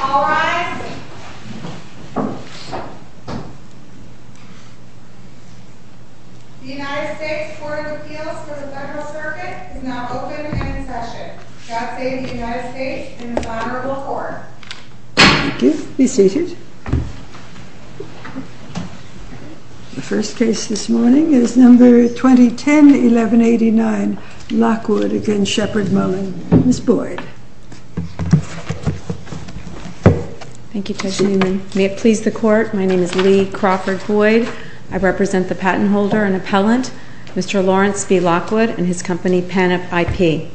All rise. The United States Court of Appeals for the Federal Circuit is now open and in session. God save the United States and its honorable court. The first case this morning is number 2010-1189 Lockwood v. Sheppard Mullin. Ms. Boyd. Thank you, Judge Newman. May it please the court, my name is Lee Crawford Boyd. I represent the patent holder and appellant, Mr. Lawrence B. Lockwood and his company, Panop IP.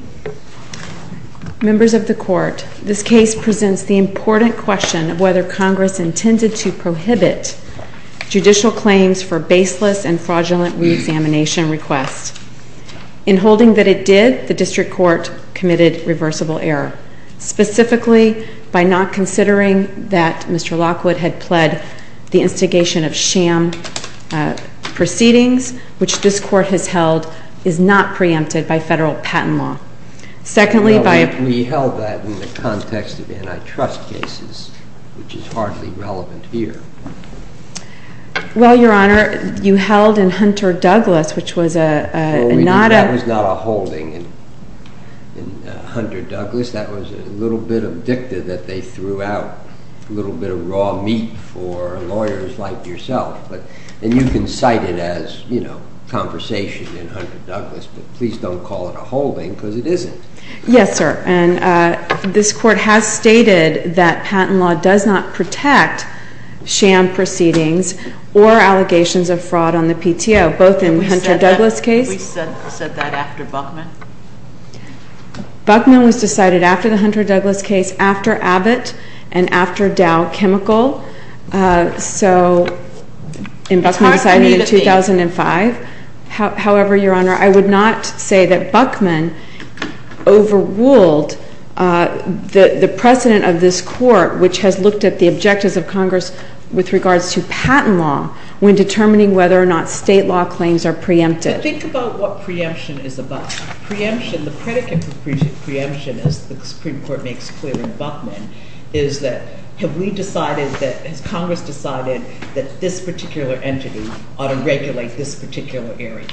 Members of the court, this case presents the important question of whether Congress intended to prohibit judicial claims for baseless and fraudulent reexamination requests. In holding that it did, the district court committed reversible error, specifically by not considering that Mr. Lockwood had pled the instigation of sham proceedings, which this court has held is not preempted by federal patent law. Well, we held that in the context of antitrust cases, which is hardly relevant here. Well, Your Honor, you held in Hunter Douglas, which was not a… That was not a holding in Hunter Douglas. That was a little bit of dicta that they threw out, a little bit of raw meat for lawyers like yourself. And you can cite it as, you know, conversation in Hunter Douglas, but please don't call it a holding because it isn't. Yes, sir. And this court has stated that patent law does not protect sham proceedings or allegations of fraud on the PTO, both in the Hunter Douglas case… Please said that after Buckman. Buckman was decided after the Hunter Douglas case, after Abbott, and after Dow Chemical. So, and Buckman was decided in 2005. However, Your Honor, I would not say that Buckman overruled the precedent of this court, which has looked at the objectives of Congress with regards to patent law, when determining whether or not state law claims are preempted. But think about what preemption is about. Preemption, the predicate for preemption, as the Supreme Court makes clear in Buckman, is that, have we decided that, has Congress decided that this particular entity ought to regulate this particular area?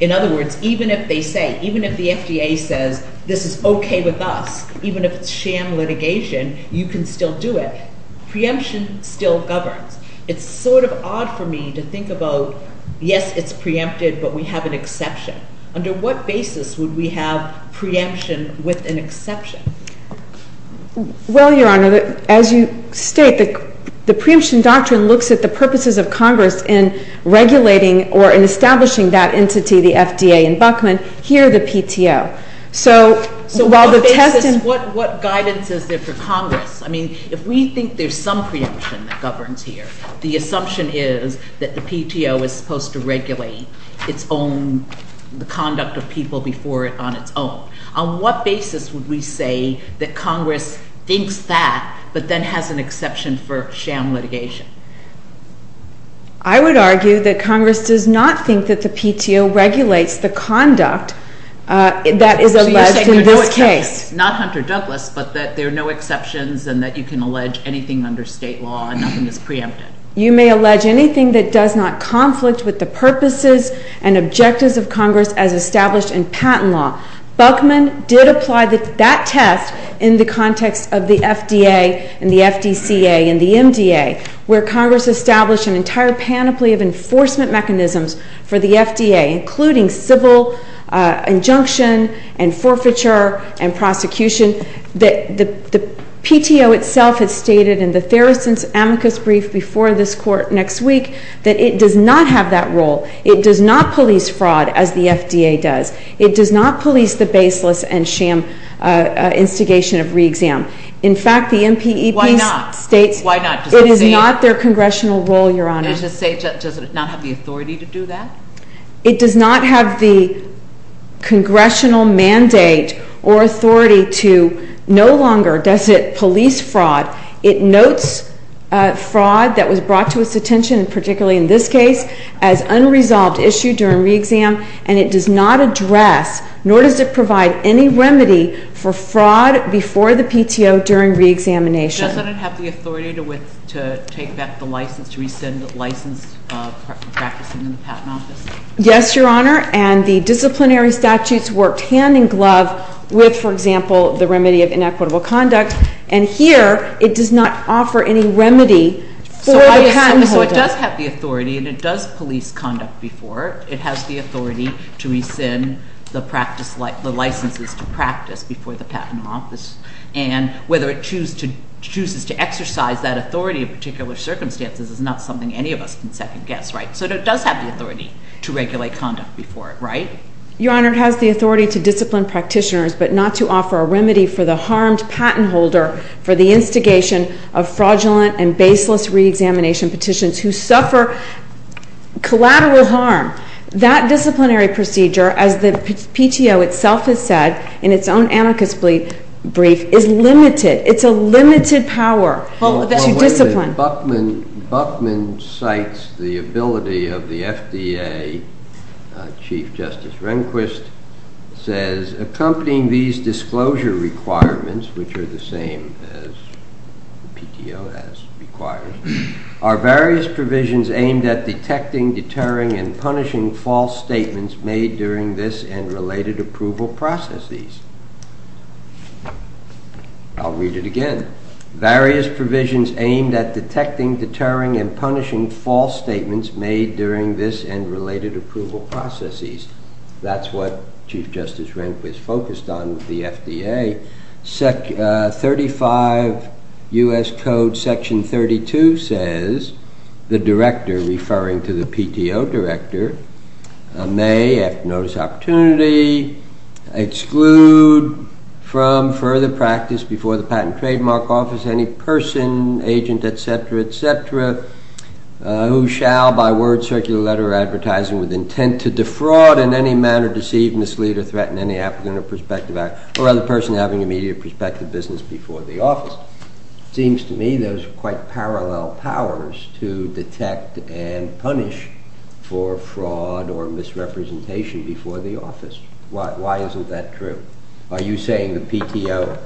In other words, even if they say, even if the FDA says, this is okay with us, even if it's sham litigation, you can still do it. Preemption still governs. It's sort of odd for me to think about, yes, it's preempted, but we have an exception. Under what basis would we have preemption with an exception? Well, Your Honor, as you state, the preemption doctrine looks at the purposes of Congress in regulating or in establishing that entity, the FDA in Buckman, here the PTO. So, what basis, what guidance is there for Congress? I mean, if we think there's some preemption that governs here, the assumption is that the PTO is supposed to regulate its own, the conduct of people before it on its own. On what basis would we say that Congress thinks that but then has an exception for sham litigation? I would argue that Congress does not think that the PTO regulates the conduct that is alleged in this case. Not Hunter Douglas, but that there are no exceptions and that you can allege anything under state law and nothing is preempted. You may allege anything that does not conflict with the purposes and objectives of Congress as established in patent law. Buckman did apply that test in the context of the FDA and the FDCA and the MDA, where Congress established an entire panoply of enforcement mechanisms for the FDA, including civil injunction and forfeiture and prosecution. The PTO itself has stated in the Theresa Amicus brief before this court next week that it does not have that role. It does not police fraud as the FDA does. It does not police the baseless and sham instigation of reexam. In fact, the MPEP states it is not their congressional role, Your Honor. Does it not have the authority to do that? It does not have the congressional mandate or authority to no longer does it police fraud. It notes fraud that was brought to its attention, particularly in this case, as unresolved issue during reexam. And it does not address nor does it provide any remedy for fraud before the PTO during reexamination. Does it not have the authority to take back the license, to rescind the license practicing in the patent office? Yes, Your Honor. And the disciplinary statutes worked hand in glove with, for example, the remedy of inequitable conduct. And here it does not offer any remedy for the patent holder. So it does have the authority and it does police conduct before. It has the authority to rescind the practice, the licenses to practice before the patent office. And whether it chooses to exercise that authority in particular circumstances is not something any of us can second guess, right? So it does have the authority to regulate conduct before, right? Your Honor, it has the authority to discipline practitioners but not to offer a remedy for the harmed patent holder for the instigation of fraudulent and baseless reexamination petitions who suffer collateral harm. That disciplinary procedure, as the PTO itself has said in its own anarchist brief, is limited. It's a limited power to discipline. When Buckman cites the ability of the FDA, Chief Justice Rehnquist says, accompanying these disclosure requirements, which are the same as PTO has required, are various provisions aimed at detecting, deterring, and punishing false statements made during this and related approval processes. I'll read it again. Various provisions aimed at detecting, deterring, and punishing false statements made during this and related approval processes. That's what Chief Justice Rehnquist focused on with the FDA. 35 U.S. Code Section 32 says the director, referring to the PTO director, may, after notice of opportunity, exclude from further practice before the patent trademark office any person, agent, etc., etc., who shall, by word, circular letter, or advertising with intent to defraud in any manner, deceive, mislead, or threaten any applicant or prospective agent, or other person having immediate or prospective business before the office. It seems to me those are quite parallel powers to detect and punish for fraud or misrepresentation before the office. Why isn't that true? Are you saying the PTO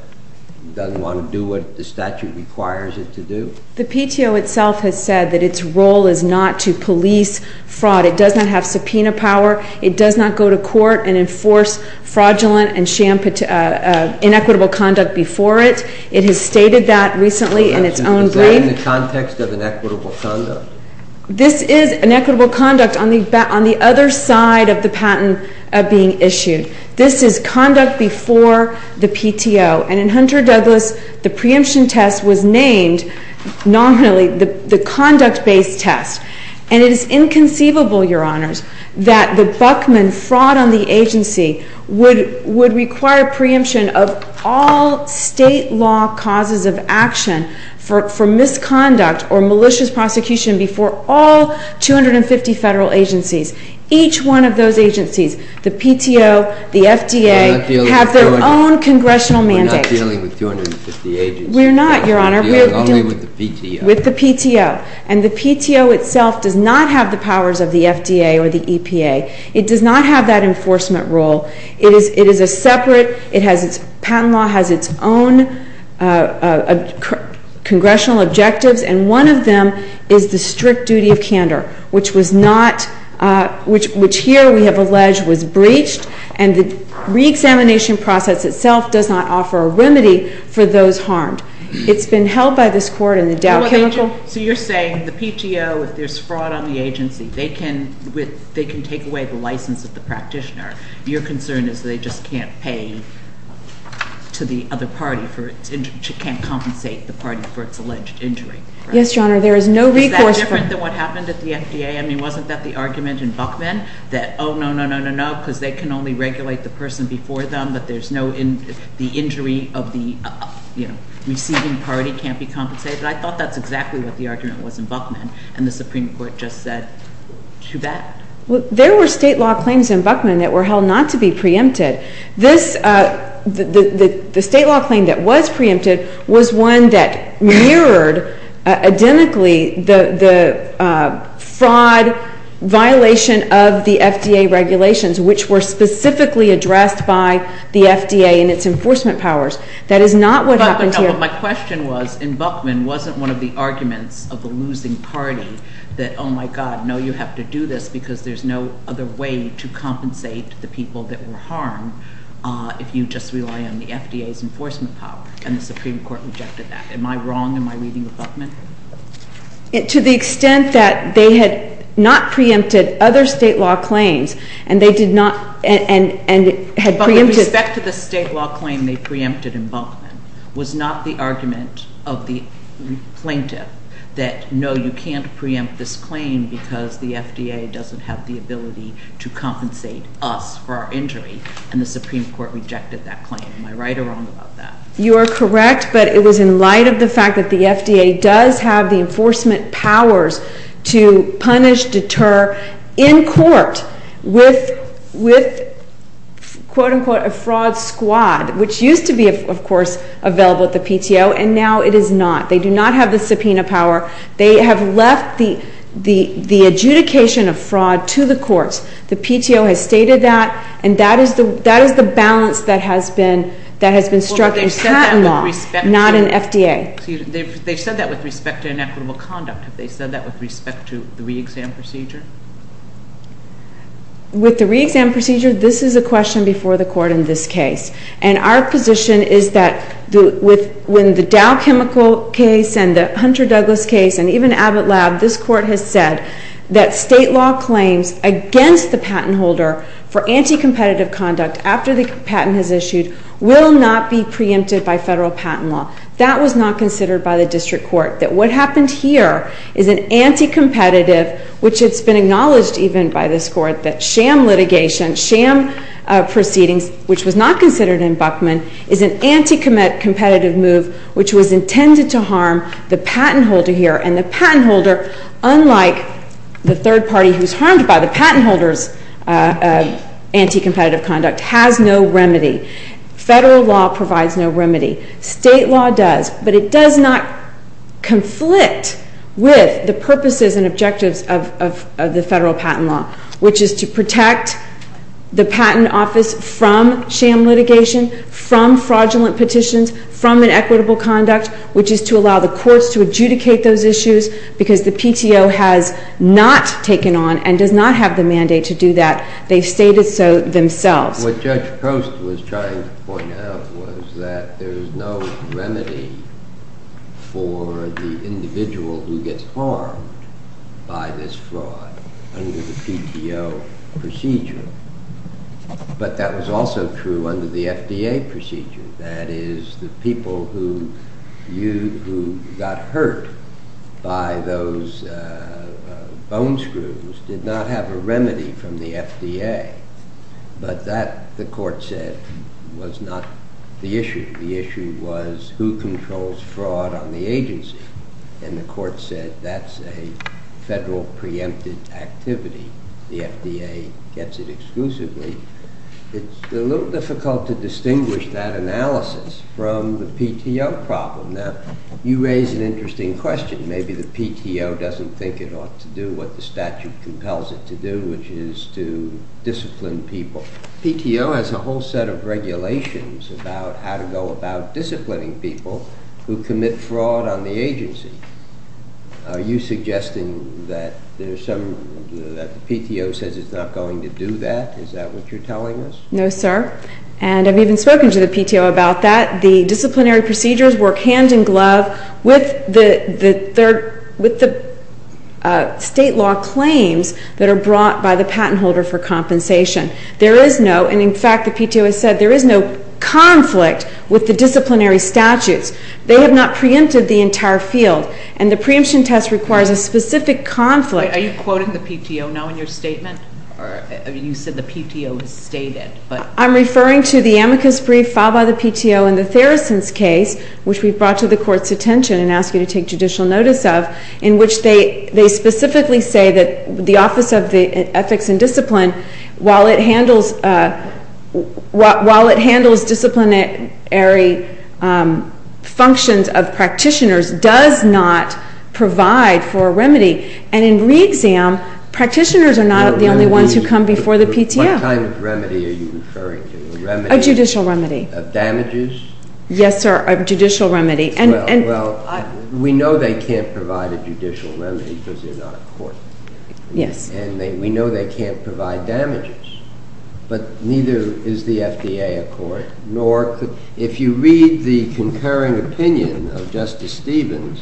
doesn't want to do what the statute requires it to do? The PTO itself has said that its role is not to police fraud. It does not have subpoena power. It does not go to court and enforce fraudulent and inequitable conduct before it. It has stated that recently in its own brief. Is that in the context of inequitable conduct? This is inequitable conduct on the other side of the patent being issued. This is conduct before the PTO. And in Hunter-Douglas, the preemption test was named nominally the conduct-based test. And it is inconceivable, Your Honors, that the Buckman fraud on the agency would require preemption of all state law causes of action for misconduct or malicious prosecution before all 250 federal agencies. Each one of those agencies, the PTO, the FDA, have their own congressional mandate. We're not dealing with 250 agencies. We're not, Your Honor. We're dealing only with the PTO. With the PTO. And the PTO itself does not have the powers of the FDA or the EPA. It does not have that enforcement role. It is a separate. It has its patent law, has its own congressional objectives. And one of them is the strict duty of candor, which was not, which here we have alleged was breached. And the reexamination process itself does not offer a remedy for those harmed. It's been held by this Court in the Dow Chemical. So you're saying the PTO, if there's fraud on the agency, they can take away the license of the practitioner. Your concern is they just can't pay to the other party for its injury, can't compensate the party for its alleged injury. Yes, Your Honor. There is no recourse for it. Is that different than what happened at the FDA? I mean, wasn't that the argument in Buckman that, oh, no, no, no, no, no, because they can only regulate the person before them, but there's no, the injury of the receiving party can't be compensated? I thought that's exactly what the argument was in Buckman, and the Supreme Court just said too bad. Well, there were state law claims in Buckman that were held not to be preempted. This, the state law claim that was preempted was one that mirrored, identically, the fraud violation of the FDA regulations, which were specifically addressed by the FDA and its enforcement powers. That is not what happened here. But my question was, in Buckman, wasn't one of the arguments of the losing party that, oh, my God, no, you have to do this because there's no other way to compensate the people that were harmed if you just rely on the FDA's enforcement power? And the Supreme Court rejected that. Am I wrong in my reading of Buckman? To the extent that they had not preempted other state law claims, and they did not, and had preempted With respect to the state law claim they preempted in Buckman, was not the argument of the plaintiff that, no, you can't preempt this claim because the FDA doesn't have the ability to compensate us for our injury? And the Supreme Court rejected that claim. Am I right or wrong about that? You are correct, but it was in light of the fact that the FDA does have the enforcement powers to punish, deter in court with, quote, unquote, a fraud squad, which used to be, of course, available at the PTO, and now it is not. They do not have the subpoena power. They have left the adjudication of fraud to the courts. The PTO has stated that, and that is the balance that has been struck in patent law, not in FDA. They've said that with respect to inequitable conduct. Have they said that with respect to the re-exam procedure? With the re-exam procedure, this is a question before the court in this case. And our position is that when the Dow Chemical case and the Hunter Douglas case and even Abbott Lab, this court has said that state law claims against the patent holder for anti-competitive conduct after the patent is issued will not be preempted by federal patent law. That was not considered by the district court. That what happened here is an anti-competitive, which has been acknowledged even by this court, that sham litigation, sham proceedings, which was not considered in Buckman, is an anti-competitive move which was intended to harm the patent holder here. And the patent holder, unlike the third party who is harmed by the patent holder's anti-competitive conduct, has no remedy. Federal law provides no remedy. State law does. But it does not conflict with the purposes and objectives of the federal patent law, which is to protect the patent office from sham litigation, from fraudulent petitions, from inequitable conduct, which is to allow the courts to adjudicate those issues because the PTO has not taken on and does not have the mandate to do that. They've stated so themselves. What Judge Post was trying to point out was that there's no remedy for the individual who gets harmed by this fraud under the PTO procedure. But that was also true under the FDA procedure. That is, the people who got hurt by those bone screws did not have a remedy from the FDA. But that, the court said, was not the issue. The issue was who controls fraud on the agency. And the court said that's a federal preempted activity. The FDA gets it exclusively. It's a little difficult to distinguish that analysis from the PTO problem. Now, you raise an interesting question. Maybe the PTO doesn't think it ought to do what the statute compels it to do, which is to discipline people. PTO has a whole set of regulations about how to go about disciplining people who commit fraud on the agency. Are you suggesting that the PTO says it's not going to do that? Is that what you're telling us? No, sir. And I've even spoken to the PTO about that. The disciplinary procedures work hand in glove with the state law claims that are brought by the patent holder for compensation. There is no—and, in fact, the PTO has said there is no conflict with the disciplinary statutes. They have not preempted the entire field. And the preemption test requires a specific conflict. Are you quoting the PTO now in your statement? You said the PTO has stated. I'm referring to the amicus brief filed by the PTO in the Theracinth case, which we've brought to the court's attention and asked you to take judicial notice of, in which they specifically say that the Office of Ethics and Discipline, while it handles disciplinary functions of practitioners, does not provide for a remedy. And in re-exam, practitioners are not the only ones who come before the PTO. What kind of remedy are you referring to? A judicial remedy. Of damages? Yes, sir, a judicial remedy. Well, we know they can't provide a judicial remedy because they're not a court. Yes. And we know they can't provide damages. But neither is the FDA a court. If you read the concurring opinion of Justice Stevens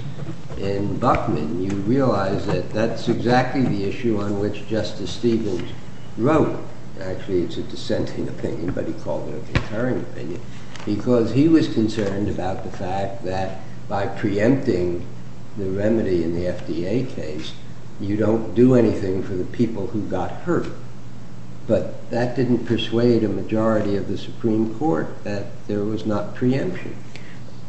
in Buckman, you realize that that's exactly the issue on which Justice Stevens wrote. Actually, it's a dissenting opinion, but he called it a concurring opinion. Because he was concerned about the fact that by preempting the remedy in the FDA case, you don't do anything for the people who got hurt. But that didn't persuade a majority of the Supreme Court that there was not preemption.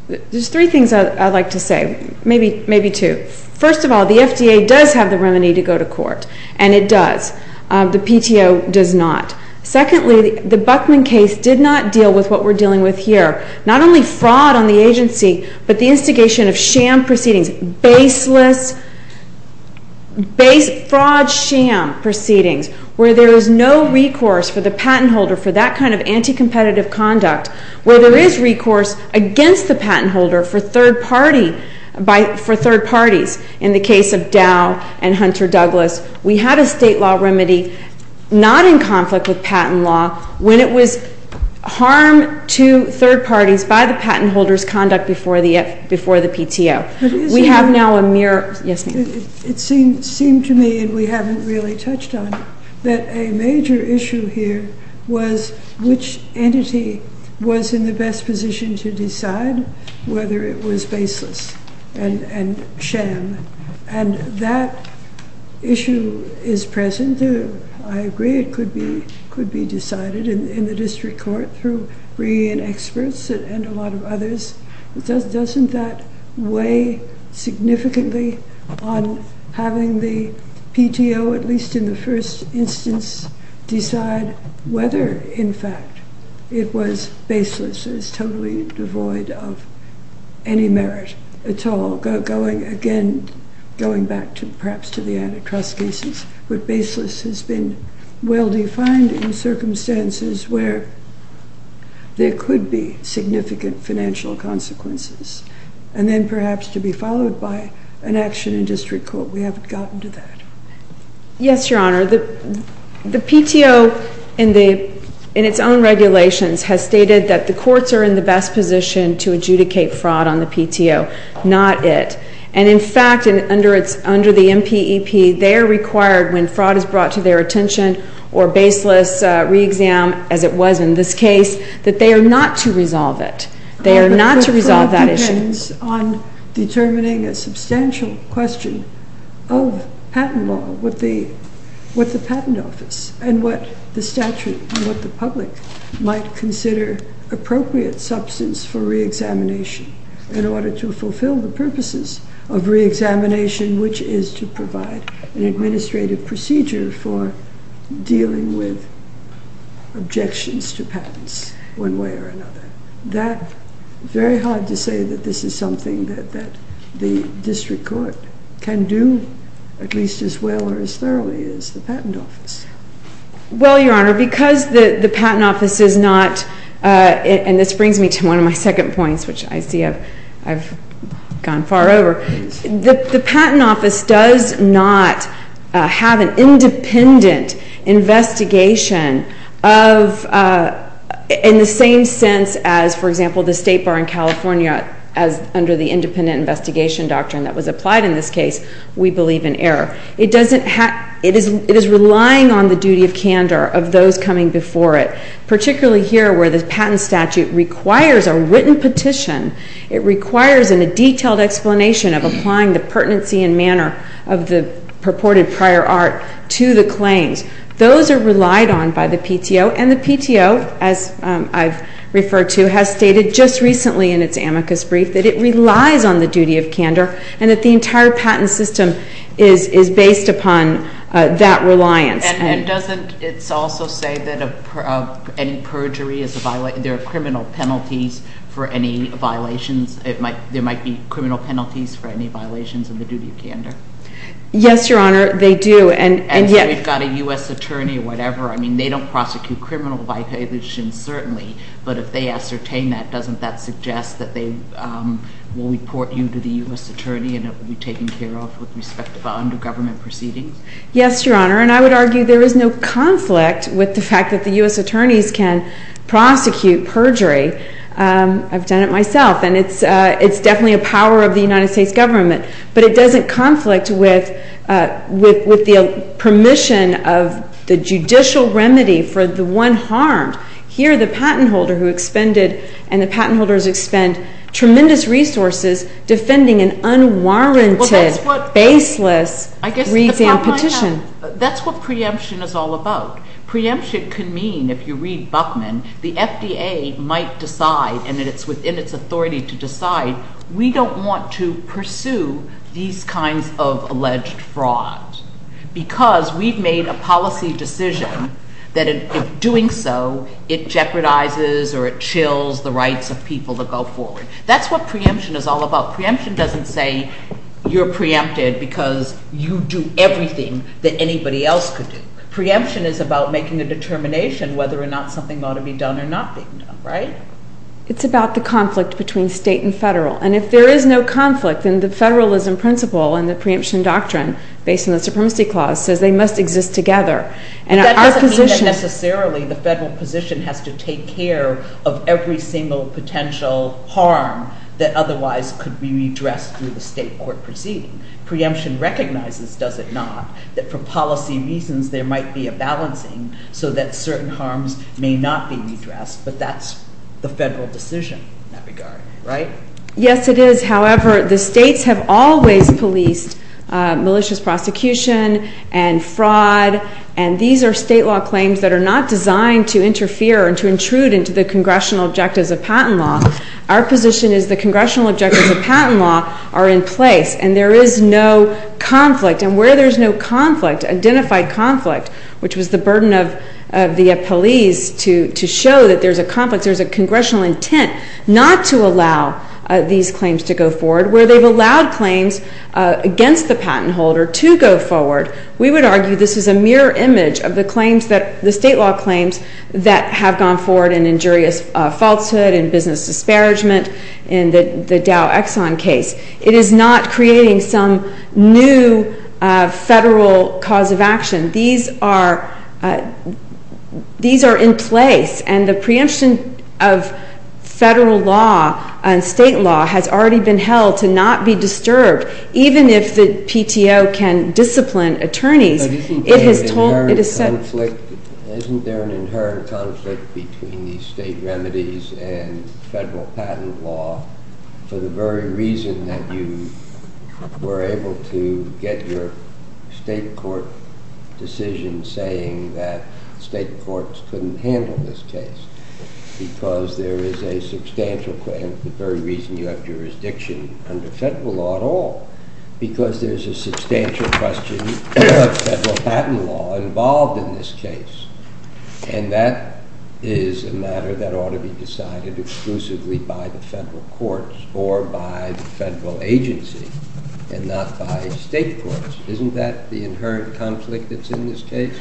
There's three things I'd like to say, maybe two. First of all, the FDA does have the remedy to go to court, and it does. The PTO does not. Secondly, the Buckman case did not deal with what we're dealing with here. Not only fraud on the agency, but the instigation of sham proceedings, baseless fraud sham proceedings, where there is no recourse for the patent holder for that kind of anti-competitive conduct, where there is recourse against the patent holder for third parties. In the case of Dow and Hunter Douglas, we had a state law remedy not in conflict with patent law when it was harm to third parties by the patent holder's conduct before the PTO. It seemed to me, and we haven't really touched on it, that a major issue here was which entity was in the best position to decide whether it was baseless and sham. And that issue is present. I agree it could be decided in the district court through brilliant experts and a lot of others. Doesn't that weigh significantly on having the PTO, at least in the first instance, decide whether, in fact, it was baseless, is totally devoid of any merit at all, going again, going back to perhaps to the antitrust cases, has been well-defined in circumstances where there could be significant financial consequences, and then perhaps to be followed by an action in district court. We haven't gotten to that. Yes, Your Honor. The PTO, in its own regulations, has stated that the courts are in the best position to adjudicate fraud on the PTO, not it. And, in fact, under the MPEP, they are required, when fraud is brought to their attention or baseless re-exam, as it was in this case, that they are not to resolve it. They are not to resolve that issue. But the fraud depends on determining a substantial question of patent law with the patent office and what the statute and what the public might consider appropriate substance for re-examination in order to fulfill the purposes of re-examination, which is to provide an administrative procedure for dealing with objections to patents one way or another. That, very hard to say that this is something that the district court can do, at least as well or as thoroughly as the patent office. Well, Your Honor, because the patent office is not, and this brings me to one of my second points, which I see I've gone far over, the patent office does not have an independent investigation of, in the same sense as, for example, the State Bar in California as under the independent investigation doctrine that was applied in this case, we believe in error. It doesn't have, it is relying on the duty of candor of those coming before it, particularly here where the patent statute requires a written petition. It requires a detailed explanation of applying the pertinency and manner of the purported prior art to the claims. Those are relied on by the PTO, and the PTO, as I've referred to, has stated just recently in its amicus brief that it relies on the duty of candor and that the entire patent system is based upon that reliance. And doesn't it also say that any perjury is a violation, there are criminal penalties for any violations, there might be criminal penalties for any violations of the duty of candor? Yes, Your Honor, they do. And so we've got a U.S. attorney or whatever. I mean, they don't prosecute criminal violations, certainly, but if they ascertain that, doesn't that suggest that they will report you to the U.S. attorney and it will be taken care of with respect to the under-government proceedings? Yes, Your Honor, and I would argue there is no conflict with the fact that the U.S. attorneys can prosecute perjury. I've done it myself, and it's definitely a power of the United States government, but it doesn't conflict with the permission of the judicial remedy for the one harmed. Here the patent holder who expended, and the patent holders expend tremendous resources defending an unwarranted, baseless read and petition. That's what preemption is all about. Preemption can mean, if you read Buchman, the FDA might decide, and it's within its authority to decide, we don't want to pursue these kinds of alleged frauds because we've made a policy decision that in doing so, it jeopardizes or it chills the rights of people to go forward. That's what preemption is all about. Preemption doesn't say you're preempted because you do everything that anybody else could do. Preemption is about making a determination whether or not something ought to be done or not be done, right? It's about the conflict between state and federal, and if there is no conflict, then the federalism principle and the preemption doctrine, based on the supremacy clause, says they must exist together. That doesn't mean that necessarily the federal position has to take care of every single potential harm that otherwise could be redressed through the state court proceeding. Preemption recognizes, does it not, that for policy reasons there might be a balancing so that certain harms may not be redressed, but that's the federal decision in that regard, right? Yes, it is. However, the states have always policed malicious prosecution and fraud, and these are state law claims that are not designed to interfere and to intrude into the congressional objectives of patent law. Our position is the congressional objectives of patent law are in place, and there is no conflict, and where there's no conflict, identified conflict, which was the burden of the police to show that there's a conflict, there's a congressional intent not to allow these claims to go forward, where they've allowed claims against the patent holder to go forward. We would argue this is a mirror image of the state law claims that have gone forward in injurious falsehood, in business disparagement, in the Dow Exxon case. It is not creating some new federal cause of action. These are in place, and the preemption of federal law and state law has already been held to not be disturbed, even if the PTO can discipline attorneys. Isn't there an inherent conflict between these state remedies and federal patent law for the very reason that you were able to get your state court decision saying that state courts couldn't handle this case because there is a substantial claim, the very reason you have jurisdiction under federal law at all, because there's a substantial question of federal patent law involved in this case, and that is a matter that ought to be decided exclusively by the federal courts or by the federal agency and not by state courts. Isn't that the inherent conflict that's in this case?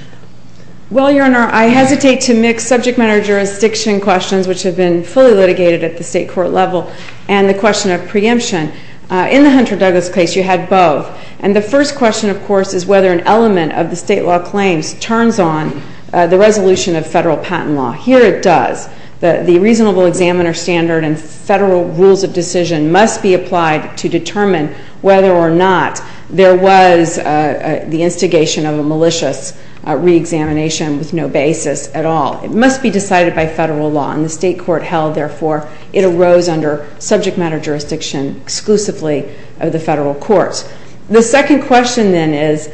Well, Your Honor, I hesitate to mix subject matter jurisdiction questions, which have been fully litigated at the state court level, and the question of preemption. In the Hunter Douglas case, you had both, and the first question, of course, is whether an element of the state law claims turns on the resolution of federal patent law. Here it does. The reasonable examiner standard and federal rules of decision must be applied to determine whether or not there was the instigation of a malicious reexamination with no basis at all. It must be decided by federal law, and the state court held, therefore, it arose under subject matter jurisdiction exclusively of the federal courts. The second question, then, is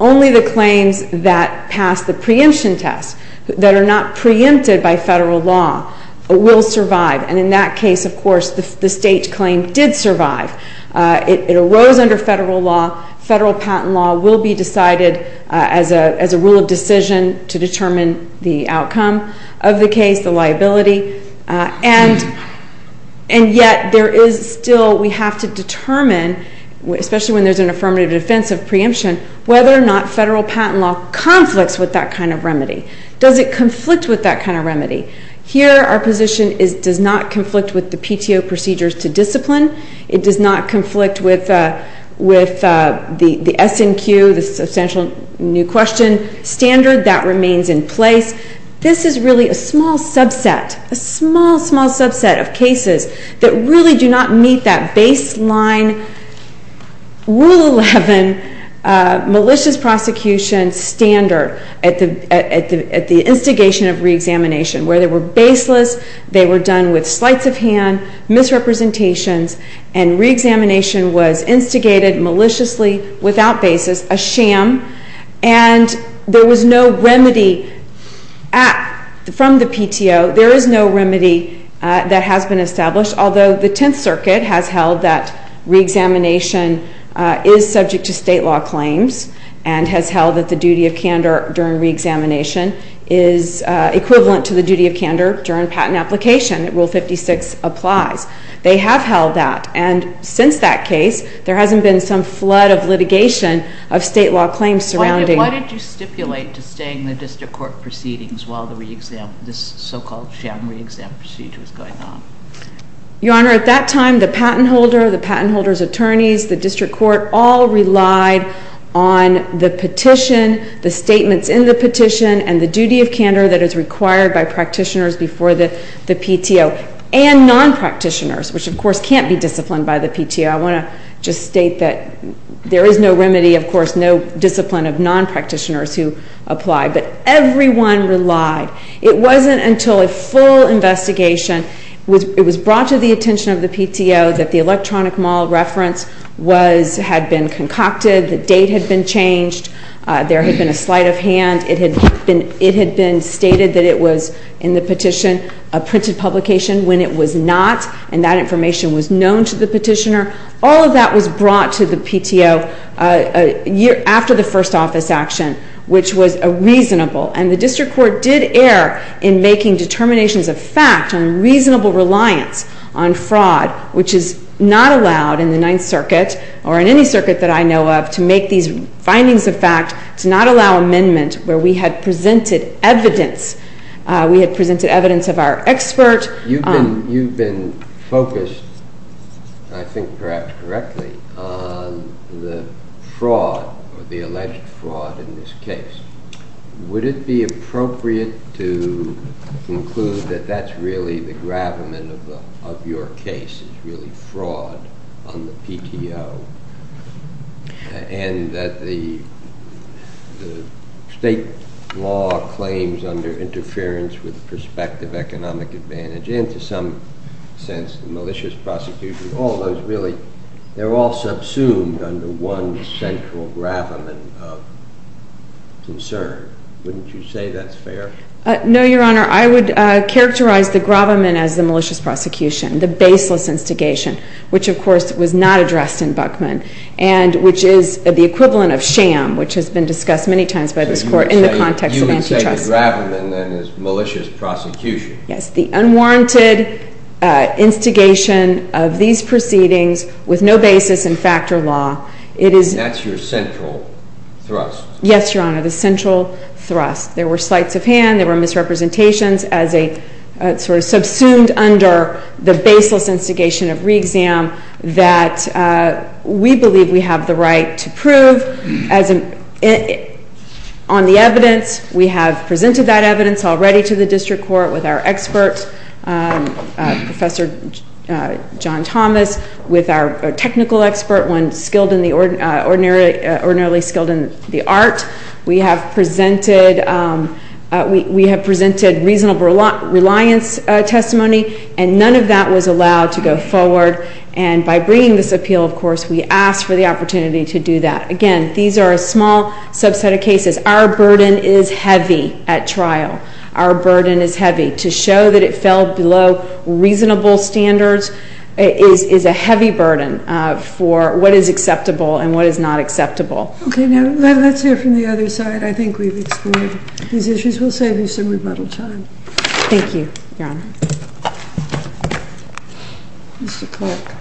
only the claims that pass the preemption test, that are not preempted by federal law, will survive, and in that case, of course, the state claim did survive. It arose under federal law. Federal patent law will be decided as a rule of decision to determine the outcome of the case, the liability, and yet there is still we have to determine, especially when there's an affirmative defense of preemption, whether or not federal patent law conflicts with that kind of remedy. Does it conflict with that kind of remedy? Here our position is it does not conflict with the PTO procedures to discipline. It does not conflict with the S&Q, the substantial new question standard. That remains in place. This is really a small subset, a small, small subset of cases that really do not meet that baseline Rule 11 malicious prosecution standard at the instigation of reexamination where they were baseless, they were done with slights of hand, misrepresentations, and reexamination was instigated maliciously without basis, a sham, and there was no remedy from the PTO. There is no remedy that has been established, although the Tenth Circuit has held that reexamination is subject to state law claims and has held that the duty of candor during reexamination is equivalent to the duty of candor during patent application. Rule 56 applies. They have held that, and since that case, there hasn't been some flood of litigation of state law claims surrounding it. Your Honor, at that time, the patent holder, the patent holder's attorneys, the district court all relied on the petition, the statements in the petition, and the duty of candor that is required by practitioners before the PTO and non-practitioners, which, of course, can't be disciplined by the PTO. I want to just state that there is no remedy, of course, no discipline of non-practitioners who apply, but everyone relied. It wasn't until a full investigation, it was brought to the attention of the PTO, that the electronic model reference had been concocted, the date had been changed, there had been a sleight of hand, it had been stated that it was in the petition, a printed publication, when it was not, and that information was known to the petitioner. All of that was brought to the PTO after the first office action, which was a reasonable, and the district court did err in making determinations of fact on reasonable reliance on fraud, which is not allowed in the Ninth Circuit, or in any circuit that I know of, to make these findings of fact, to not allow amendment where we had presented evidence. We had presented evidence of our expert. You've been focused, I think perhaps correctly, on the fraud, or the alleged fraud in this case. Would it be appropriate to conclude that that's really the gravamen of your case, is really fraud on the PTO, and that the state law claims under interference with prospective economic advantage, and to some sense the malicious prosecution, all those really, they're all subsumed under one central gravamen of concern. Wouldn't you say that's fair? No, Your Honor. I would characterize the gravamen as the malicious prosecution, the baseless instigation, which of course was not addressed in Buckman, and which is the equivalent of sham, which has been discussed many times by this Court in the context of antitrust. You would say the gravamen, then, is malicious prosecution. Yes, the unwarranted instigation of these proceedings with no basis in factor law. And that's your central thrust. Yes, Your Honor, the central thrust. There were slights of hand. There were misrepresentations as a sort of subsumed under the baseless instigation of re-exam that we believe we have the right to prove on the evidence. We have presented that evidence already to the district court with our expert, Professor John Thomas, with our technical expert, one ordinarily skilled in the art. We have presented reasonable reliance testimony, and none of that was allowed to go forward. And by bringing this appeal, of course, we asked for the opportunity to do that. Because our burden is heavy at trial. Our burden is heavy. To show that it fell below reasonable standards is a heavy burden for what is acceptable and what is not acceptable. Okay, now let's hear from the other side. I think we've explored these issues. We'll save you some rebuttal time. Thank you, Your Honor. Mr. Clark.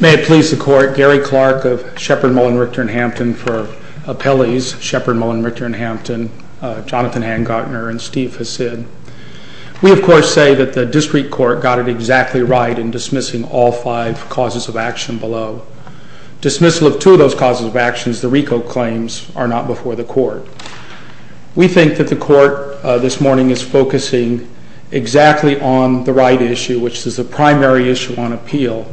May it please the court, Gary Clark of Shepard, Mullin, Richter, and Hampton for appellees, Shepard, Mullin, Richter, and Hampton, Jonathan Hancockner, and Steve Hassid. We, of course, say that the district court got it exactly right in dismissing all five causes of action below. Dismissal of two of those causes of actions, the RICO claims, are not before the court. We think that the court this morning is focusing exactly on the right issue, which is the primary issue on appeal,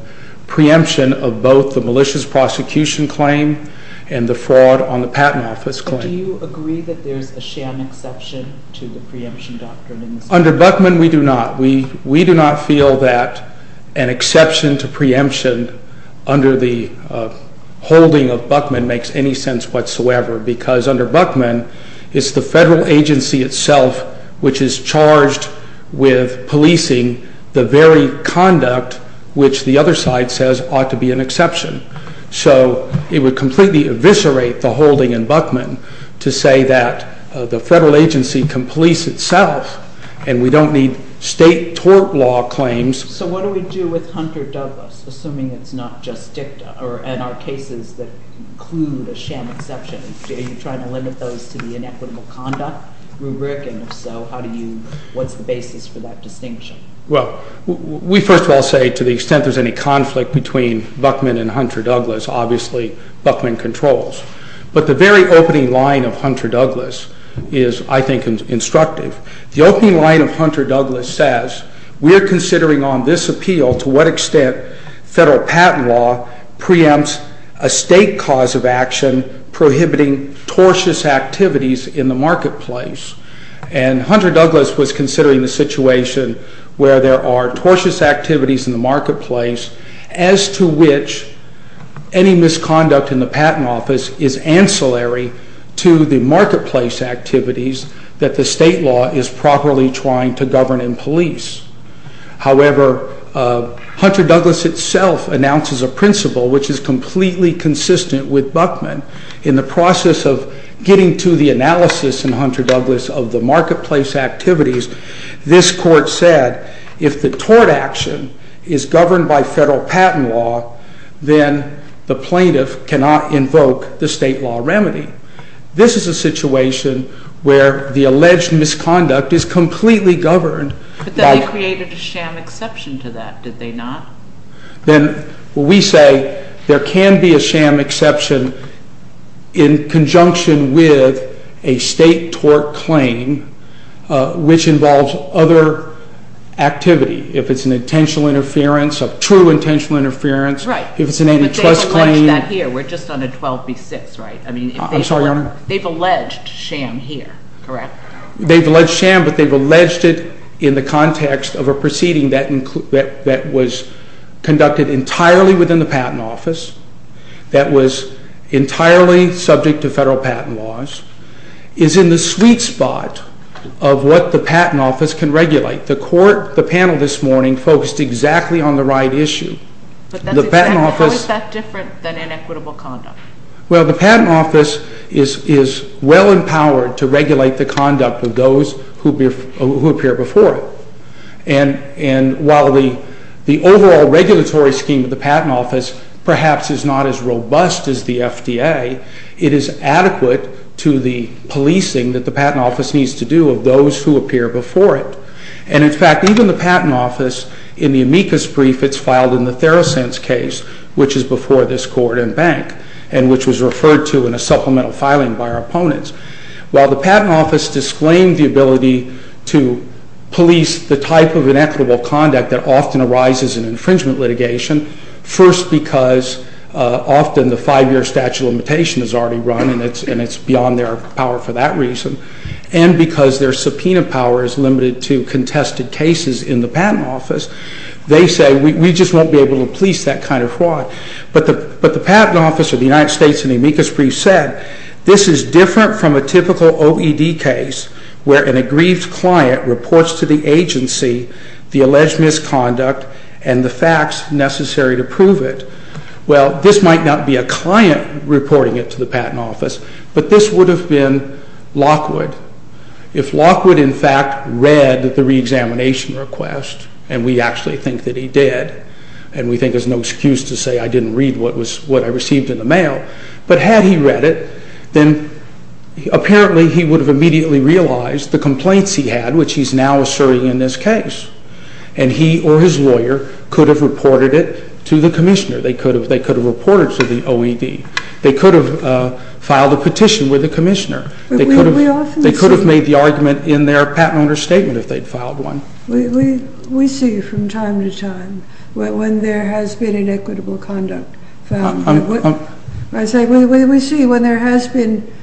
preemption of both the malicious prosecution claim and the fraud on the patent office claim. Do you agree that there's a sham exception to the preemption doctrine? Under Buckman, we do not. We do not feel that an exception to preemption under the holding of Buckman makes any sense whatsoever. Because under Buckman, it's the federal agency itself which is charged with policing the very conduct which the other side says ought to be an exception. So it would completely eviscerate the holding in Buckman to say that the federal agency can police itself and we don't need state tort law claims. So what do we do with Hunter-Douglas, assuming it's not just dicta, or in our cases that include a sham exception? Are you trying to limit those to the inequitable conduct rubric? And if so, what's the basis for that distinction? Well, we first of all say to the extent there's any conflict between Buckman and Hunter-Douglas, obviously Buckman controls. But the very opening line of Hunter-Douglas is, I think, instructive. The opening line of Hunter-Douglas says, we are considering on this appeal to what extent federal patent law preempts a state cause of action prohibiting tortious activities in the marketplace. And Hunter-Douglas was considering the situation where there are tortious activities in the marketplace as to which any misconduct in the patent office is ancillary to the marketplace activities that the state law is properly trying to govern and police. However, Hunter-Douglas itself announces a principle which is completely consistent with Buckman. In the process of getting to the analysis in Hunter-Douglas of the marketplace activities, this court said, if the tort action is governed by federal patent law, then the plaintiff cannot invoke the state law remedy. This is a situation where the alleged misconduct is completely governed. But then they created a sham exception to that, did they not? Then we say there can be a sham exception in conjunction with a state tort claim, which involves other activity. If it's an intentional interference, a true intentional interference. Right. If it's an antitrust claim. They've alleged that here. We're just on a 12B6, right? I'm sorry, Your Honor. They've alleged sham here, correct? They've alleged sham, but they've alleged it in the context of a proceeding that was conducted entirely within the patent office, that was entirely subject to federal patent laws, is in the sweet spot of what the patent office can regulate. The panel this morning focused exactly on the right issue. How is that different than inequitable conduct? Well, the patent office is well empowered to regulate the conduct of those who appear before it. And while the overall regulatory scheme of the patent office perhaps is not as robust as the FDA, it is adequate to the policing that the patent office needs to do of those who appear before it. And, in fact, even the patent office, in the amicus brief, it's filed in the Therosense case, which is before this court and bank, and which was referred to in a supplemental filing by our opponents. While the patent office disclaimed the ability to police the type of inequitable conduct that often arises in infringement litigation, first because often the five-year statute of limitation is already run, and it's beyond their power for that reason, and because their subpoena power is limited to contested cases in the patent office, they say we just won't be able to police that kind of fraud. But the patent office of the United States in the amicus brief said this is different from a typical OED case where an aggrieved client reports to the agency the alleged misconduct and the facts necessary to prove it. Well, this might not be a client reporting it to the patent office, but this would have been Lockwood. If Lockwood, in fact, read the reexamination request, and we actually think that he did, and we think there's no excuse to say I didn't read what I received in the mail, but had he read it, then apparently he would have immediately realized the complaints he had, which he's now asserting in this case. And he or his lawyer could have reported it to the commissioner. They could have reported it to the OED. They could have filed a petition with the commissioner. They could have made the argument in their patent owner's statement if they'd filed one. We see from time to time when there has been inequitable conduct. I say we see when there has been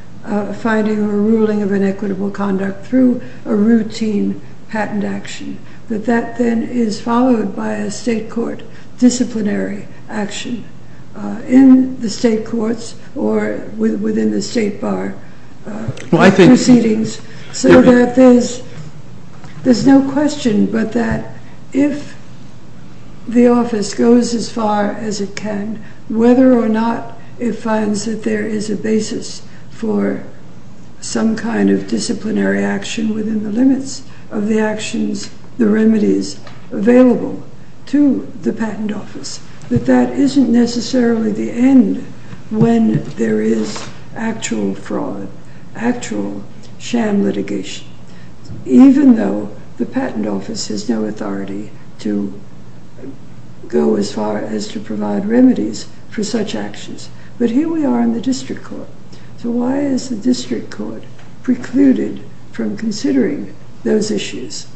finding a ruling of inequitable conduct through a routine patent action, that that then is followed by a state court disciplinary action in the state courts or within the state bar proceedings so that there's no question but that if the office goes as far as it can, whether or not it finds that there is a basis for some kind of disciplinary action within the limits of the actions, the remedies available to the patent office, that that isn't necessarily the end when there is actual fraud, actual sham litigation, even though the patent office has no authority to go as far as to provide remedies for such actions. But here we are in the district court. So why is the district court precluded from considering those issues?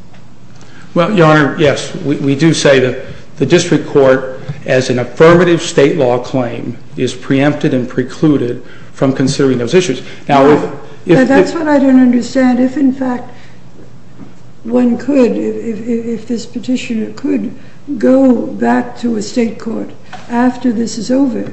Well, Your Honor, yes. We do say that the district court, as an affirmative state law claim, is preempted and precluded from considering those issues. That's what I don't understand. If, in fact, one could, if this petitioner could go back to a state court after this is over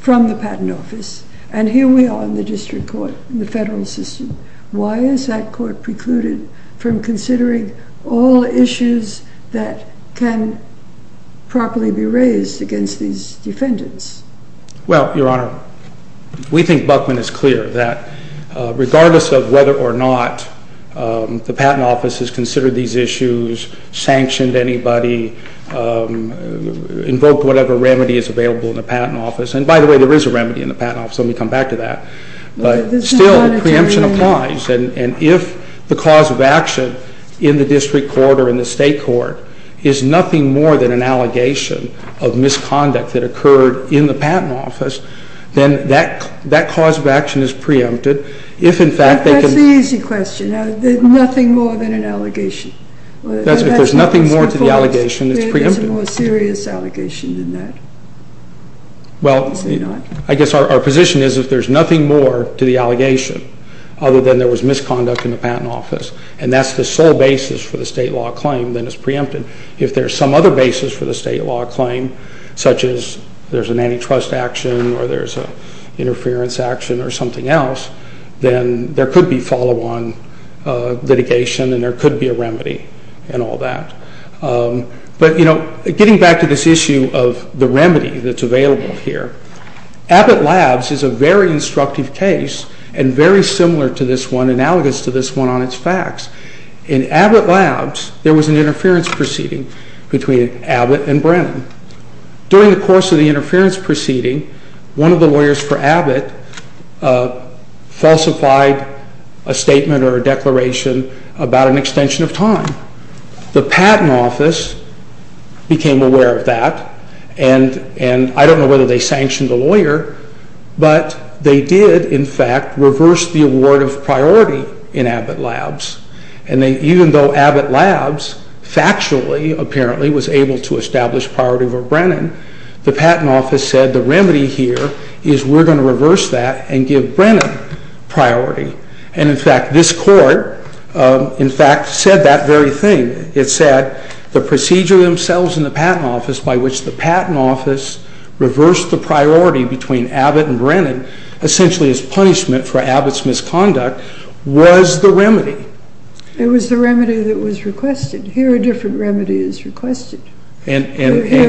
from the patent office, and here we are in the district court in the federal system, why is that court precluded from considering all issues that can properly be raised against these defendants? Well, Your Honor, we think Buckman is clear that regardless of whether or not the patent office has considered these issues, sanctioned anybody, invoked whatever remedy is available in the patent office. And by the way, there is a remedy in the patent office. Let me come back to that. But still, the preemption applies. And if the cause of action in the district court or in the state court is nothing more than an allegation of misconduct that occurred in the patent office, then that cause of action is preempted. If, in fact, they could... That's the easy question. Nothing more than an allegation. If there's nothing more to the allegation, it's preempted. There's a more serious allegation than that. Well, I guess our position is if there's nothing more to the allegation other than there was misconduct in the patent office, and that's the sole basis for the state law claim, then it's preempted. If there's some other basis for the state law claim, such as there's an antitrust action or there's an interference action or something else, then there could be follow-on litigation and there could be a remedy and all that. But getting back to this issue of the remedy that's available here, Abbott Labs is a very instructive case and very similar to this one, analogous to this one on its facts. In Abbott Labs, there was an interference proceeding between Abbott and Brennan. During the course of the interference proceeding, one of the lawyers for Abbott falsified a statement or a declaration about an extension of time. The patent office became aware of that, and I don't know whether they sanctioned the lawyer, but they did, in fact, reverse the award of priority in Abbott Labs. And even though Abbott Labs factually, apparently, was able to establish priority for Brennan, the patent office said the remedy here is we're going to reverse that and give Brennan priority. And in fact, this court, in fact, said that very thing. It said the procedure themselves in the patent office by which the patent office reversed the priority between Abbott and Brennan, essentially as punishment for Abbott's misconduct, was the remedy. It was the remedy that was requested. Here a different remedy is requested. Here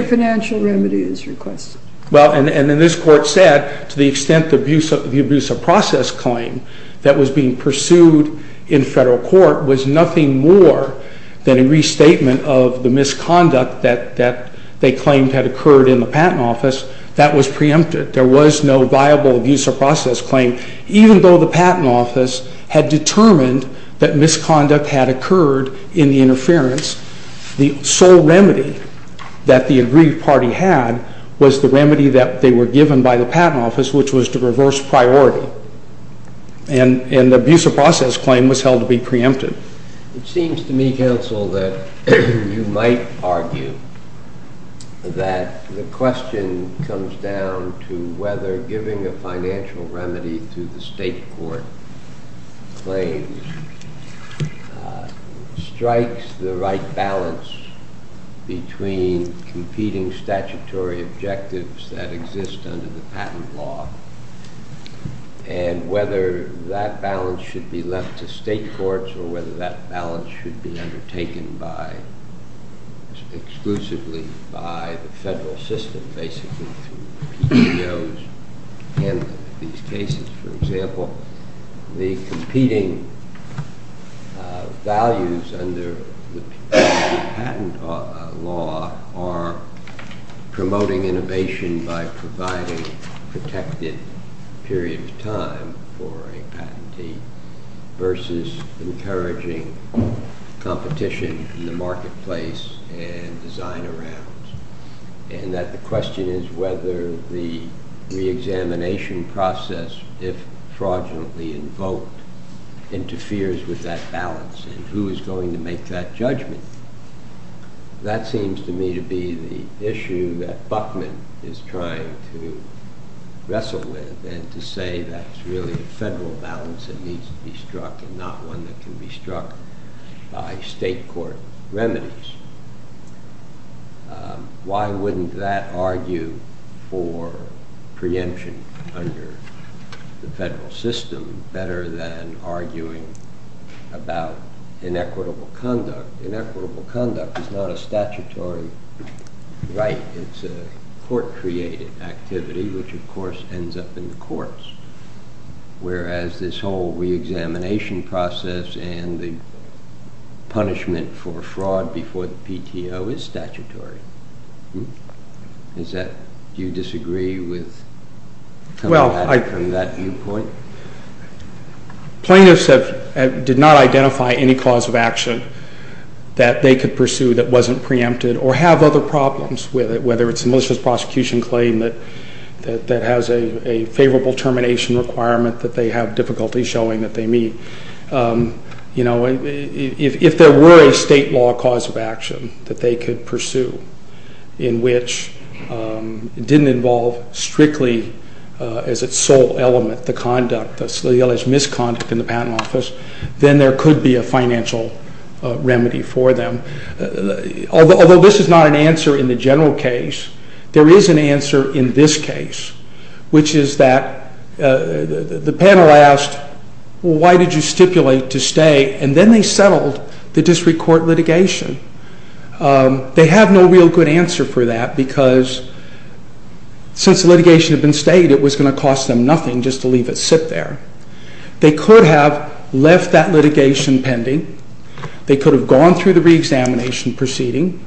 a financial remedy is requested. Well, and then this court said to the extent the abuse of process claim that was being pursued in federal court was nothing more than a restatement of the misconduct that they claimed had occurred in the patent office, that was preempted. There was no viable abuse of process claim. Even though the patent office had determined that misconduct had occurred in the interference, the sole remedy that the aggrieved party had was the remedy that they were given by the patent office, which was to reverse priority. And the abuse of process claim was held to be preempted. It seems to me, counsel, that you might argue that the question comes down to whether giving a financial remedy to the state court claims strikes the right balance between competing statutory objectives that exist under the patent law and whether that balance should be left to state courts or whether that balance should be undertaken exclusively by the federal system, basically through PTOs handling these cases. For example, the competing values under the patent law are promoting innovation by providing a protected period of time for a patentee versus encouraging competition in the marketplace and design around. And that the question is whether the reexamination process, if fraudulently invoked, interferes with that balance and who is going to make that judgment. That seems to me to be the issue that Buckman is trying to wrestle with and to say that it's really a federal balance that needs to be struck and not one that can be struck by state court remedies. Why wouldn't that argue for preemption under the federal system better than arguing about inequitable conduct? Inequitable conduct is not a statutory right. It's a court-created activity, which of course ends up in the courts, whereas this whole reexamination process and the punishment for fraud before the PTO is statutory. Do you disagree with coming at it from that viewpoint? Plaintiffs did not identify any cause of action that they could pursue that wasn't preempted or have other problems with it, whether it's a malicious prosecution claim that has a favorable termination requirement that they have difficulty showing that they meet. If there were a state law cause of action that they could pursue in which it didn't involve strictly as its sole element the conduct, the alleged misconduct in the patent office, then there could be a financial remedy for them. Although this is not an answer in the general case, there is an answer in this case, which is that the panel asked, why did you stipulate to stay? And then they settled the district court litigation They have no real good answer for that because since the litigation had been stayed it was going to cost them nothing just to leave it sit there. They could have left that litigation pending. They could have gone through the reexamination proceeding.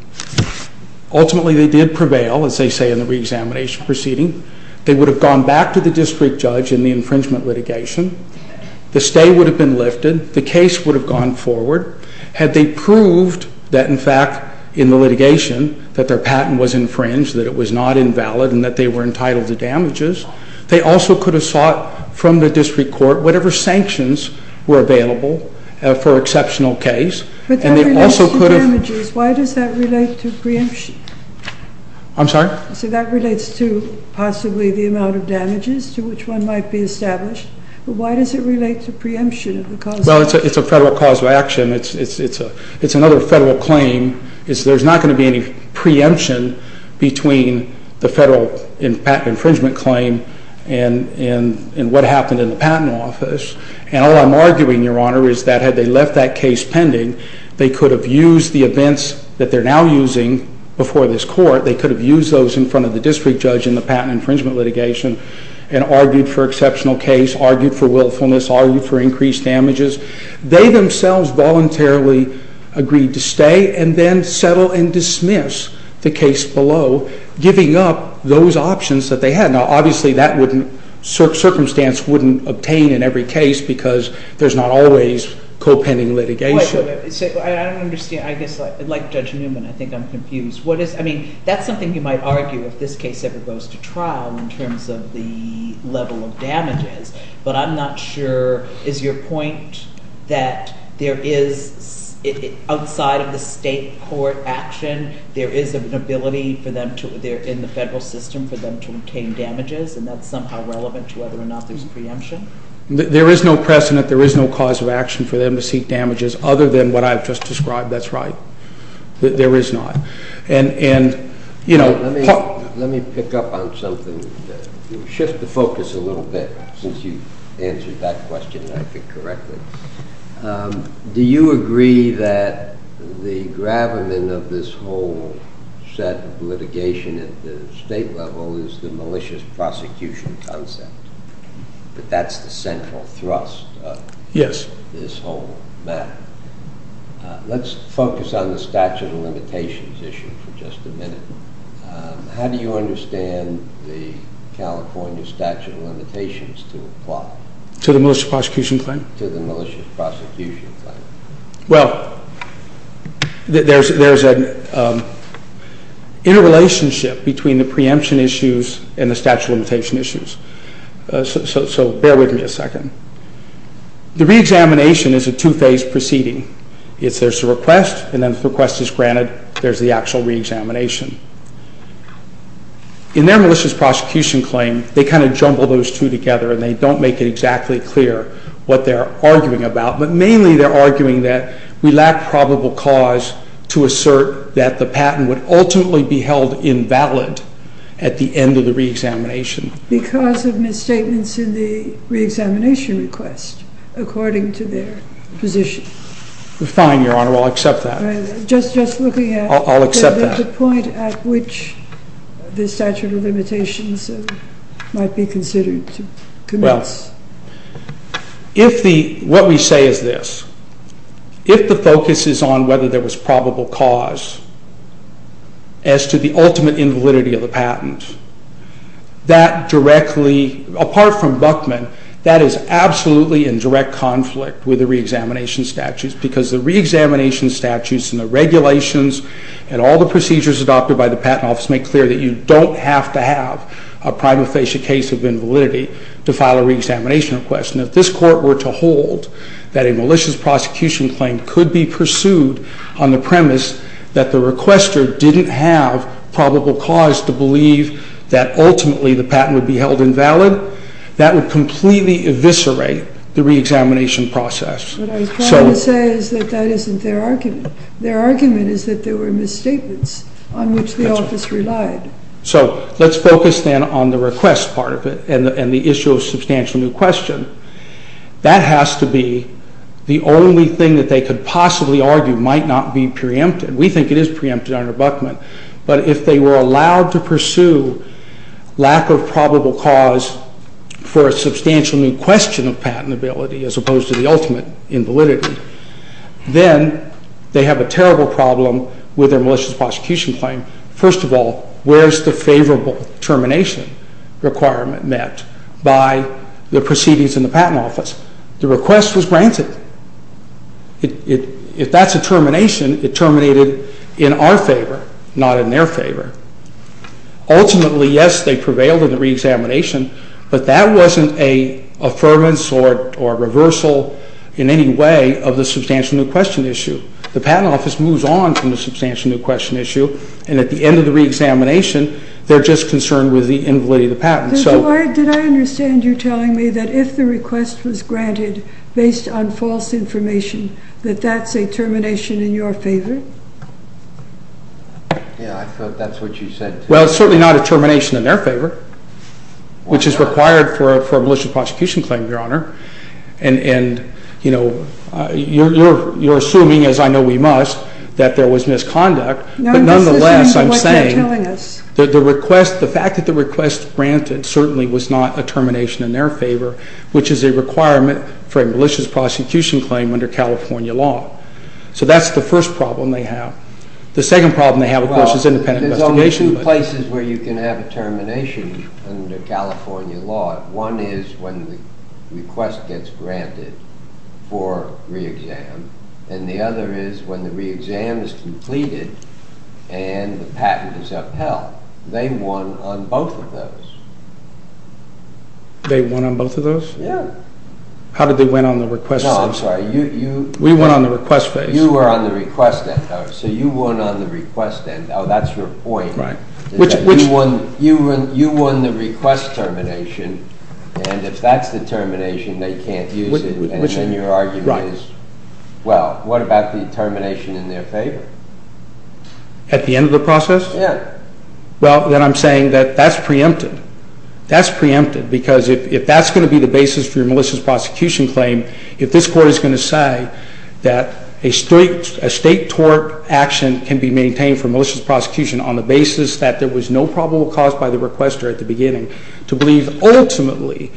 Ultimately they did prevail, as they say in the reexamination proceeding. They would have gone back to the district judge in the infringement litigation. The stay would have been lifted. The case would have gone forward. Had they proved that, in fact, in the litigation that their patent was infringed, that it was not invalid, and that they were entitled to damages, they also could have sought from the district court whatever sanctions were available for exceptional case. But that relates to damages. Why does that relate to preemption? I'm sorry? So that relates to possibly the amount of damages to which one might be established. But why does it relate to preemption? Well, it's a federal cause of action. It's another federal claim. There's not going to be any preemption between the federal patent infringement claim and what happened in the patent office. And all I'm arguing, Your Honor, is that had they left that case pending, they could have used the events that they're now using before this court, they could have used those in front of the district judge in the patent infringement litigation and argued for exceptional case, argued for willfulness, argued for increased damages. They themselves voluntarily agreed to stay and then settle and dismiss the case below, giving up those options that they had. Now, obviously, that circumstance wouldn't obtain in every case because there's not always co-pending litigation. Wait, wait, wait. I don't understand. I guess, like Judge Newman, I think I'm confused. I mean, that's something you might argue if this case ever goes to trial in terms of the level of damages. But I'm not sure. Is your point that there is, outside of the state court action, there is an ability for them to, in the federal system, for them to obtain damages, and that's somehow relevant to whether or not there's preemption? There is no precedent, there is no cause of action for them to seek damages other than what I've just described. That's right. There is not. And, you know... Let me pick up on something. Shift the focus a little bit since you answered that question, I think, correctly. Do you agree that the gravamen of this whole set of litigation at the state level is the malicious prosecution concept, that that's the central thrust of this whole matter? Let's focus on the statute of limitations issue for just a minute. How do you understand the California statute of limitations to apply? To the malicious prosecution claim? To the malicious prosecution claim. Well, there's an interrelationship between the preemption issues and the statute of limitation issues. So bear with me a second. The reexamination is a two-phase proceeding. There's the request, and then the request is granted. There's the actual reexamination. In their malicious prosecution claim, they kind of jumble those two together and they don't make it exactly clear what they're arguing about, but mainly they're arguing that we lack probable cause to assert that the patent would ultimately be held invalid at the end of the reexamination. Because of misstatements in the reexamination request according to their position. Fine, Your Honor, I'll accept that. Just looking at the point at which the statute of limitations might be considered to commence. Well, what we say is this. If the focus is on whether there was probable cause as to the ultimate invalidity of the patent, that directly, apart from Buckman, that is absolutely in direct conflict with the reexamination statutes because the reexamination statutes and the regulations and all the procedures adopted by the Patent Office make clear that you don't have to have a prima facie case of invalidity to file a reexamination request. And if this Court were to hold that a malicious prosecution claim could be pursued on the premise that the requester didn't have probable cause to believe that ultimately the patent would be held invalid, that would completely eviscerate the reexamination process. What I was trying to say is that that isn't their argument. Their argument is that there were misstatements on which the Office relied. So, let's focus then on the request part of it and the issue of substantial new question. That has to be the only thing that they could possibly argue might not be preempted. We think it is preempted under Buckman. But if they were allowed to pursue lack of probable cause for a substantial new question of patentability as opposed to the ultimate invalidity, then they have a terrible problem with their malicious prosecution claim. First of all, where is the favorable termination requirement met by the proceedings in the Patent Office? The request was granted. If that's a termination, it terminated in our favor, not in their favor. Ultimately, yes, they prevailed in the reexamination, but that wasn't an affirmance or reversal in any way of the substantial new question issue. The Patent Office moves on from the substantial new question issue and at the end of the reexamination, they're just concerned with the invalidity of the patent. Did I understand you telling me that if the request was granted based on false information, that that's a termination in your favor? Yeah, I thought that's what you said. Well, it's certainly not a termination in their favor. Which is required for a malicious prosecution claim, Your Honor. And, you know, you're assuming, as I know we must, that there was misconduct, but nonetheless I'm saying that the request, the fact that the request granted certainly was not a termination in their favor, which is a requirement for a malicious prosecution claim under California law. So that's the first problem they have. The second problem they have, of course, is independent investigation. There are two places where you can have a termination under California law. One is when the request gets granted for reexam, and the other is when the reexam is completed and the patent is upheld. They won on both of those. They won on both of those? Yeah. How did they win on the request phase? No, I'm sorry. We won on the request phase. You were on the request end. So you won on the request end. Oh, that's your point. Right. You won the request termination, and if that's the termination, they can't use it, and then your argument is, well, what about the termination in their favor? At the end of the process? Yeah. Well, then I'm saying that that's preempted. That's preempted, because if that's going to be the basis for your malicious prosecution claim, if this Court is going to say that a state tort action can be maintained for malicious prosecution on the basis that there was no probable cause by the requester at the beginning, to believe ultimately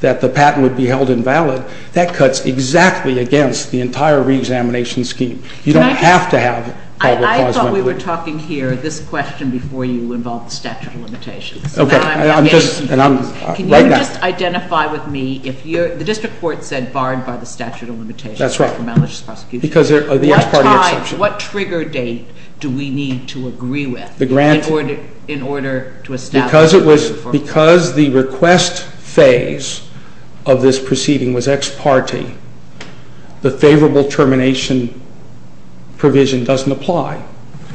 that the patent would be held invalid, that cuts exactly against the entire reexamination scheme. You don't have to have probable cause. I thought we were talking here, this question before you involved the statute of limitations. Okay. Can you just identify with me, the District Court said barred by the statute of limitations for malicious prosecution. That's right. Because of the ex parte exception. What trigger date do we need to agree with in order to establish? Because the request phase of this proceeding was ex parte, the favorable termination provision doesn't apply.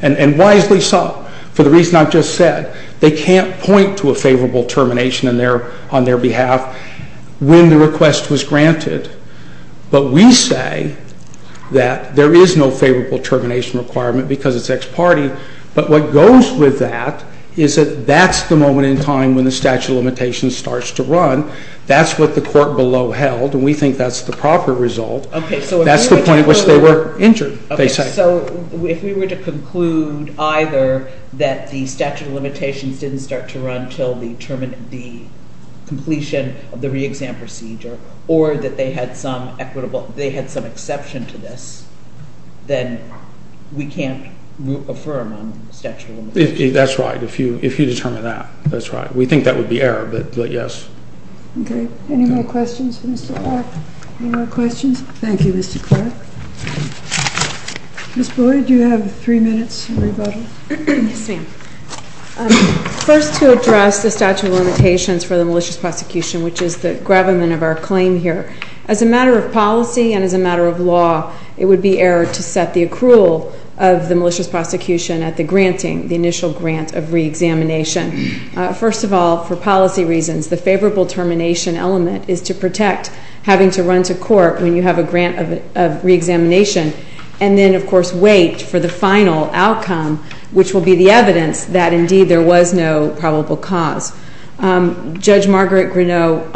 And wisely so. For the reason I've just said, they can't point to a favorable termination on their behalf when the request was granted. But we say that there is no favorable termination requirement because it's ex parte. But what goes with that is that that's the moment in time when the statute of limitations starts to run. That's what the court below held, and we think that's the proper result. That's the point at which they were injured. So if we were to conclude either that the statute of limitations didn't start to run until the completion of the reexam procedure, or that they had some exception to this, then we can't affirm on the statute of limitations. That's right. If you determine that, that's right. We think that would be error, but yes. Okay. Any more questions for Mr. Clark? Any more questions? Thank you, Mr. Clark. Ms. Boyd, you have three minutes to rebuttal. Yes, ma'am. First, to address the statute of limitations for the malicious prosecution, which is the gravamen of our claim here, as a matter of policy and as a matter of law, it would be error to set the accrual of the malicious prosecution at the granting, the initial grant of reexamination. First of all, for policy reasons, the favorable termination element is to protect having to run to court when you have a grant of reexamination, and then, of course, wait for the final outcome, which will be the evidence that, indeed, there was no probable cause. Judge Margaret Grenot,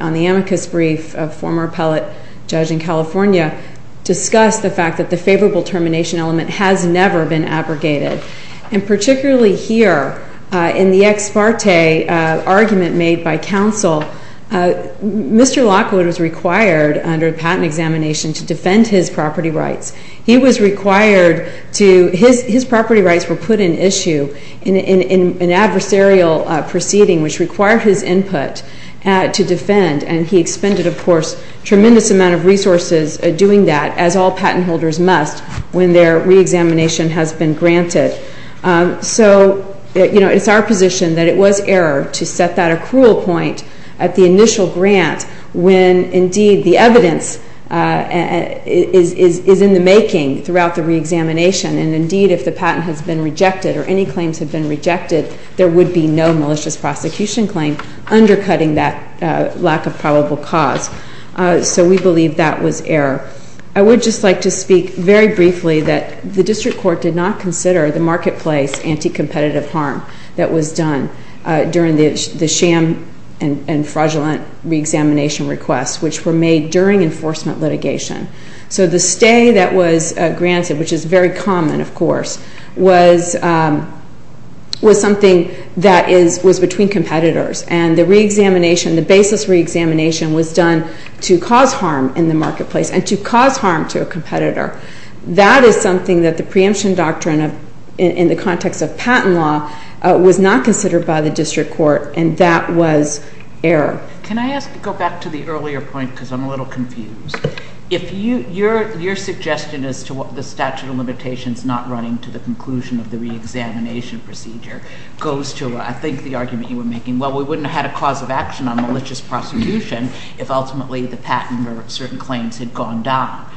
on the amicus brief of a former appellate judge in California, discussed the fact that the favorable termination element has never been abrogated. And particularly here, in the ex parte argument made by counsel, Mr. Lockwood was required, under patent examination, to defend his property rights. He was required to... His property rights were put in issue in an adversarial proceeding, which required his input to defend. And he expended, of course, a tremendous amount of resources doing that, as all patent holders must, when their reexamination has been granted. So, you know, it's our position that it was error to set that accrual point at the initial grant when, indeed, the evidence is in the making throughout the reexamination. And, indeed, if the patent has been rejected or any claims have been rejected, there would be no malicious prosecution claim undercutting that lack of probable cause. So we believe that was error. I would just like to speak very briefly that the district court did not consider the marketplace anti-competitive harm that was done during the sham and fraudulent reexamination requests, which were made during enforcement litigation. So the stay that was granted, which is very common, of course, was something that was between competitors. And the reexamination, the basis reexamination, was done to cause harm in the marketplace and to cause harm to a competitor. That is something that the preemption doctrine in the context of patent law was not considered by the district court, and that was error. Can I ask to go back to the earlier point, because I'm a little confused. Your suggestion as to what the statute of limitations not running to the conclusion of the reexamination procedure goes to, I think, the argument you were making, well, we wouldn't have had a cause of action on malicious prosecution if ultimately the patent or certain claims had gone down.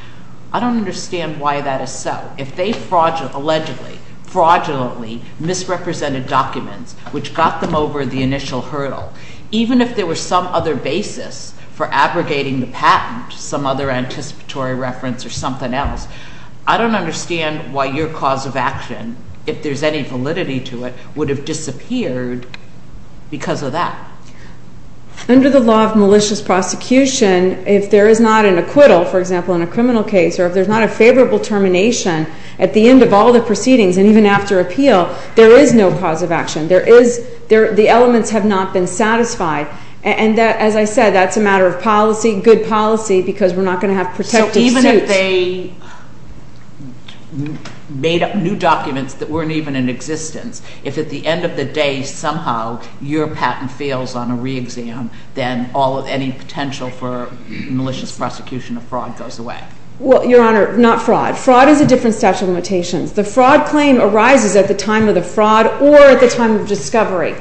I don't understand why that is so. If they fraudulently, allegedly, fraudulently misrepresented documents, which got them over the initial hurdle, even if there were some other basis for abrogating the patent, some other anticipatory reference or something else, I don't understand why your cause of action, if there's any validity to it, would have disappeared because of that. Under the law of malicious prosecution, if there is not an acquittal, for example, in a criminal case, or if there's not a favorable termination at the end of all the proceedings, and even after appeal, there is no cause of action. The elements have not been satisfied. And as I said, that's a matter of policy, good policy, because we're not going to have protective suits. Even if they made up new documents that weren't even in existence, if at the end of the day, somehow, your patent fails on a re-exam, then any potential for malicious prosecution of fraud goes away. Well, Your Honor, not fraud. Fraud is a different statute of limitations. The fraud claim arises at the time of the fraud or at the time of discovery.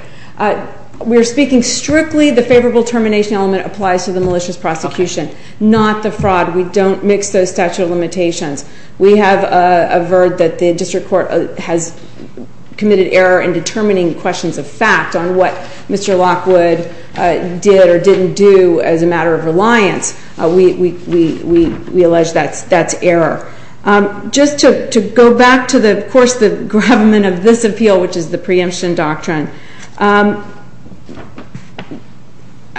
We're speaking strictly, the favorable termination element applies to the malicious prosecution, not the fraud. We don't mix those statute of limitations. We have averred that the district court has committed error in determining questions of fact on what Mr. Lockwood did or didn't do as a matter of reliance. We allege that's error. Just to go back to, of course, the gravamen of this appeal, which is the preemption doctrine,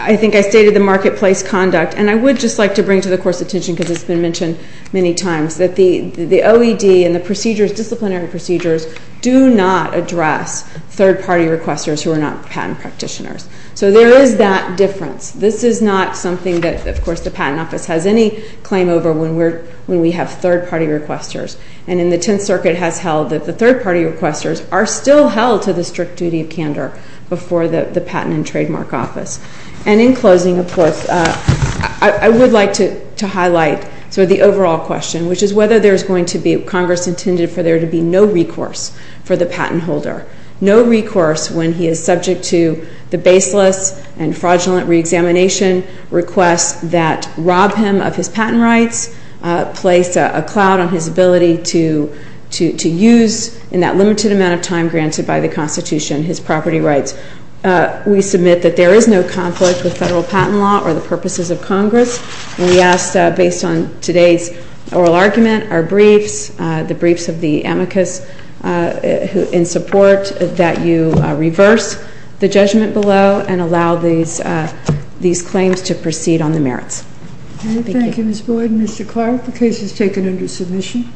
I think I stated the marketplace conduct, and I would just like to bring to the Court's attention, because it's been mentioned many times, that the OED and the disciplinary procedures do not address third-party requesters who are not patent practitioners. So there is that difference. This is not something that, of course, the Patent Office has any claim over when we have third-party requesters. And in the Tenth Circuit has held that the third-party requesters are still held to the strict duty of candor before the Patent and Trademark Office. And in closing, of course, I would like to highlight the overall question, which is whether there's going to be, Congress intended for there to be no recourse for the patent holder. No recourse when he is subject to the baseless and fraudulent reexamination requests that rob him of his patent rights, place a cloud on his ability to use, in that limited amount of time granted by the Constitution, his property rights. We submit that there is no conflict with federal patent law or the purposes of Congress. And we ask, based on today's oral argument, our briefs, the briefs of the amicus in support, that you reverse the judgment below and allow these claims to proceed on the merits. Thank you. Thank you, Ms. Boyd. Mr. Clark, the case is taken under submission.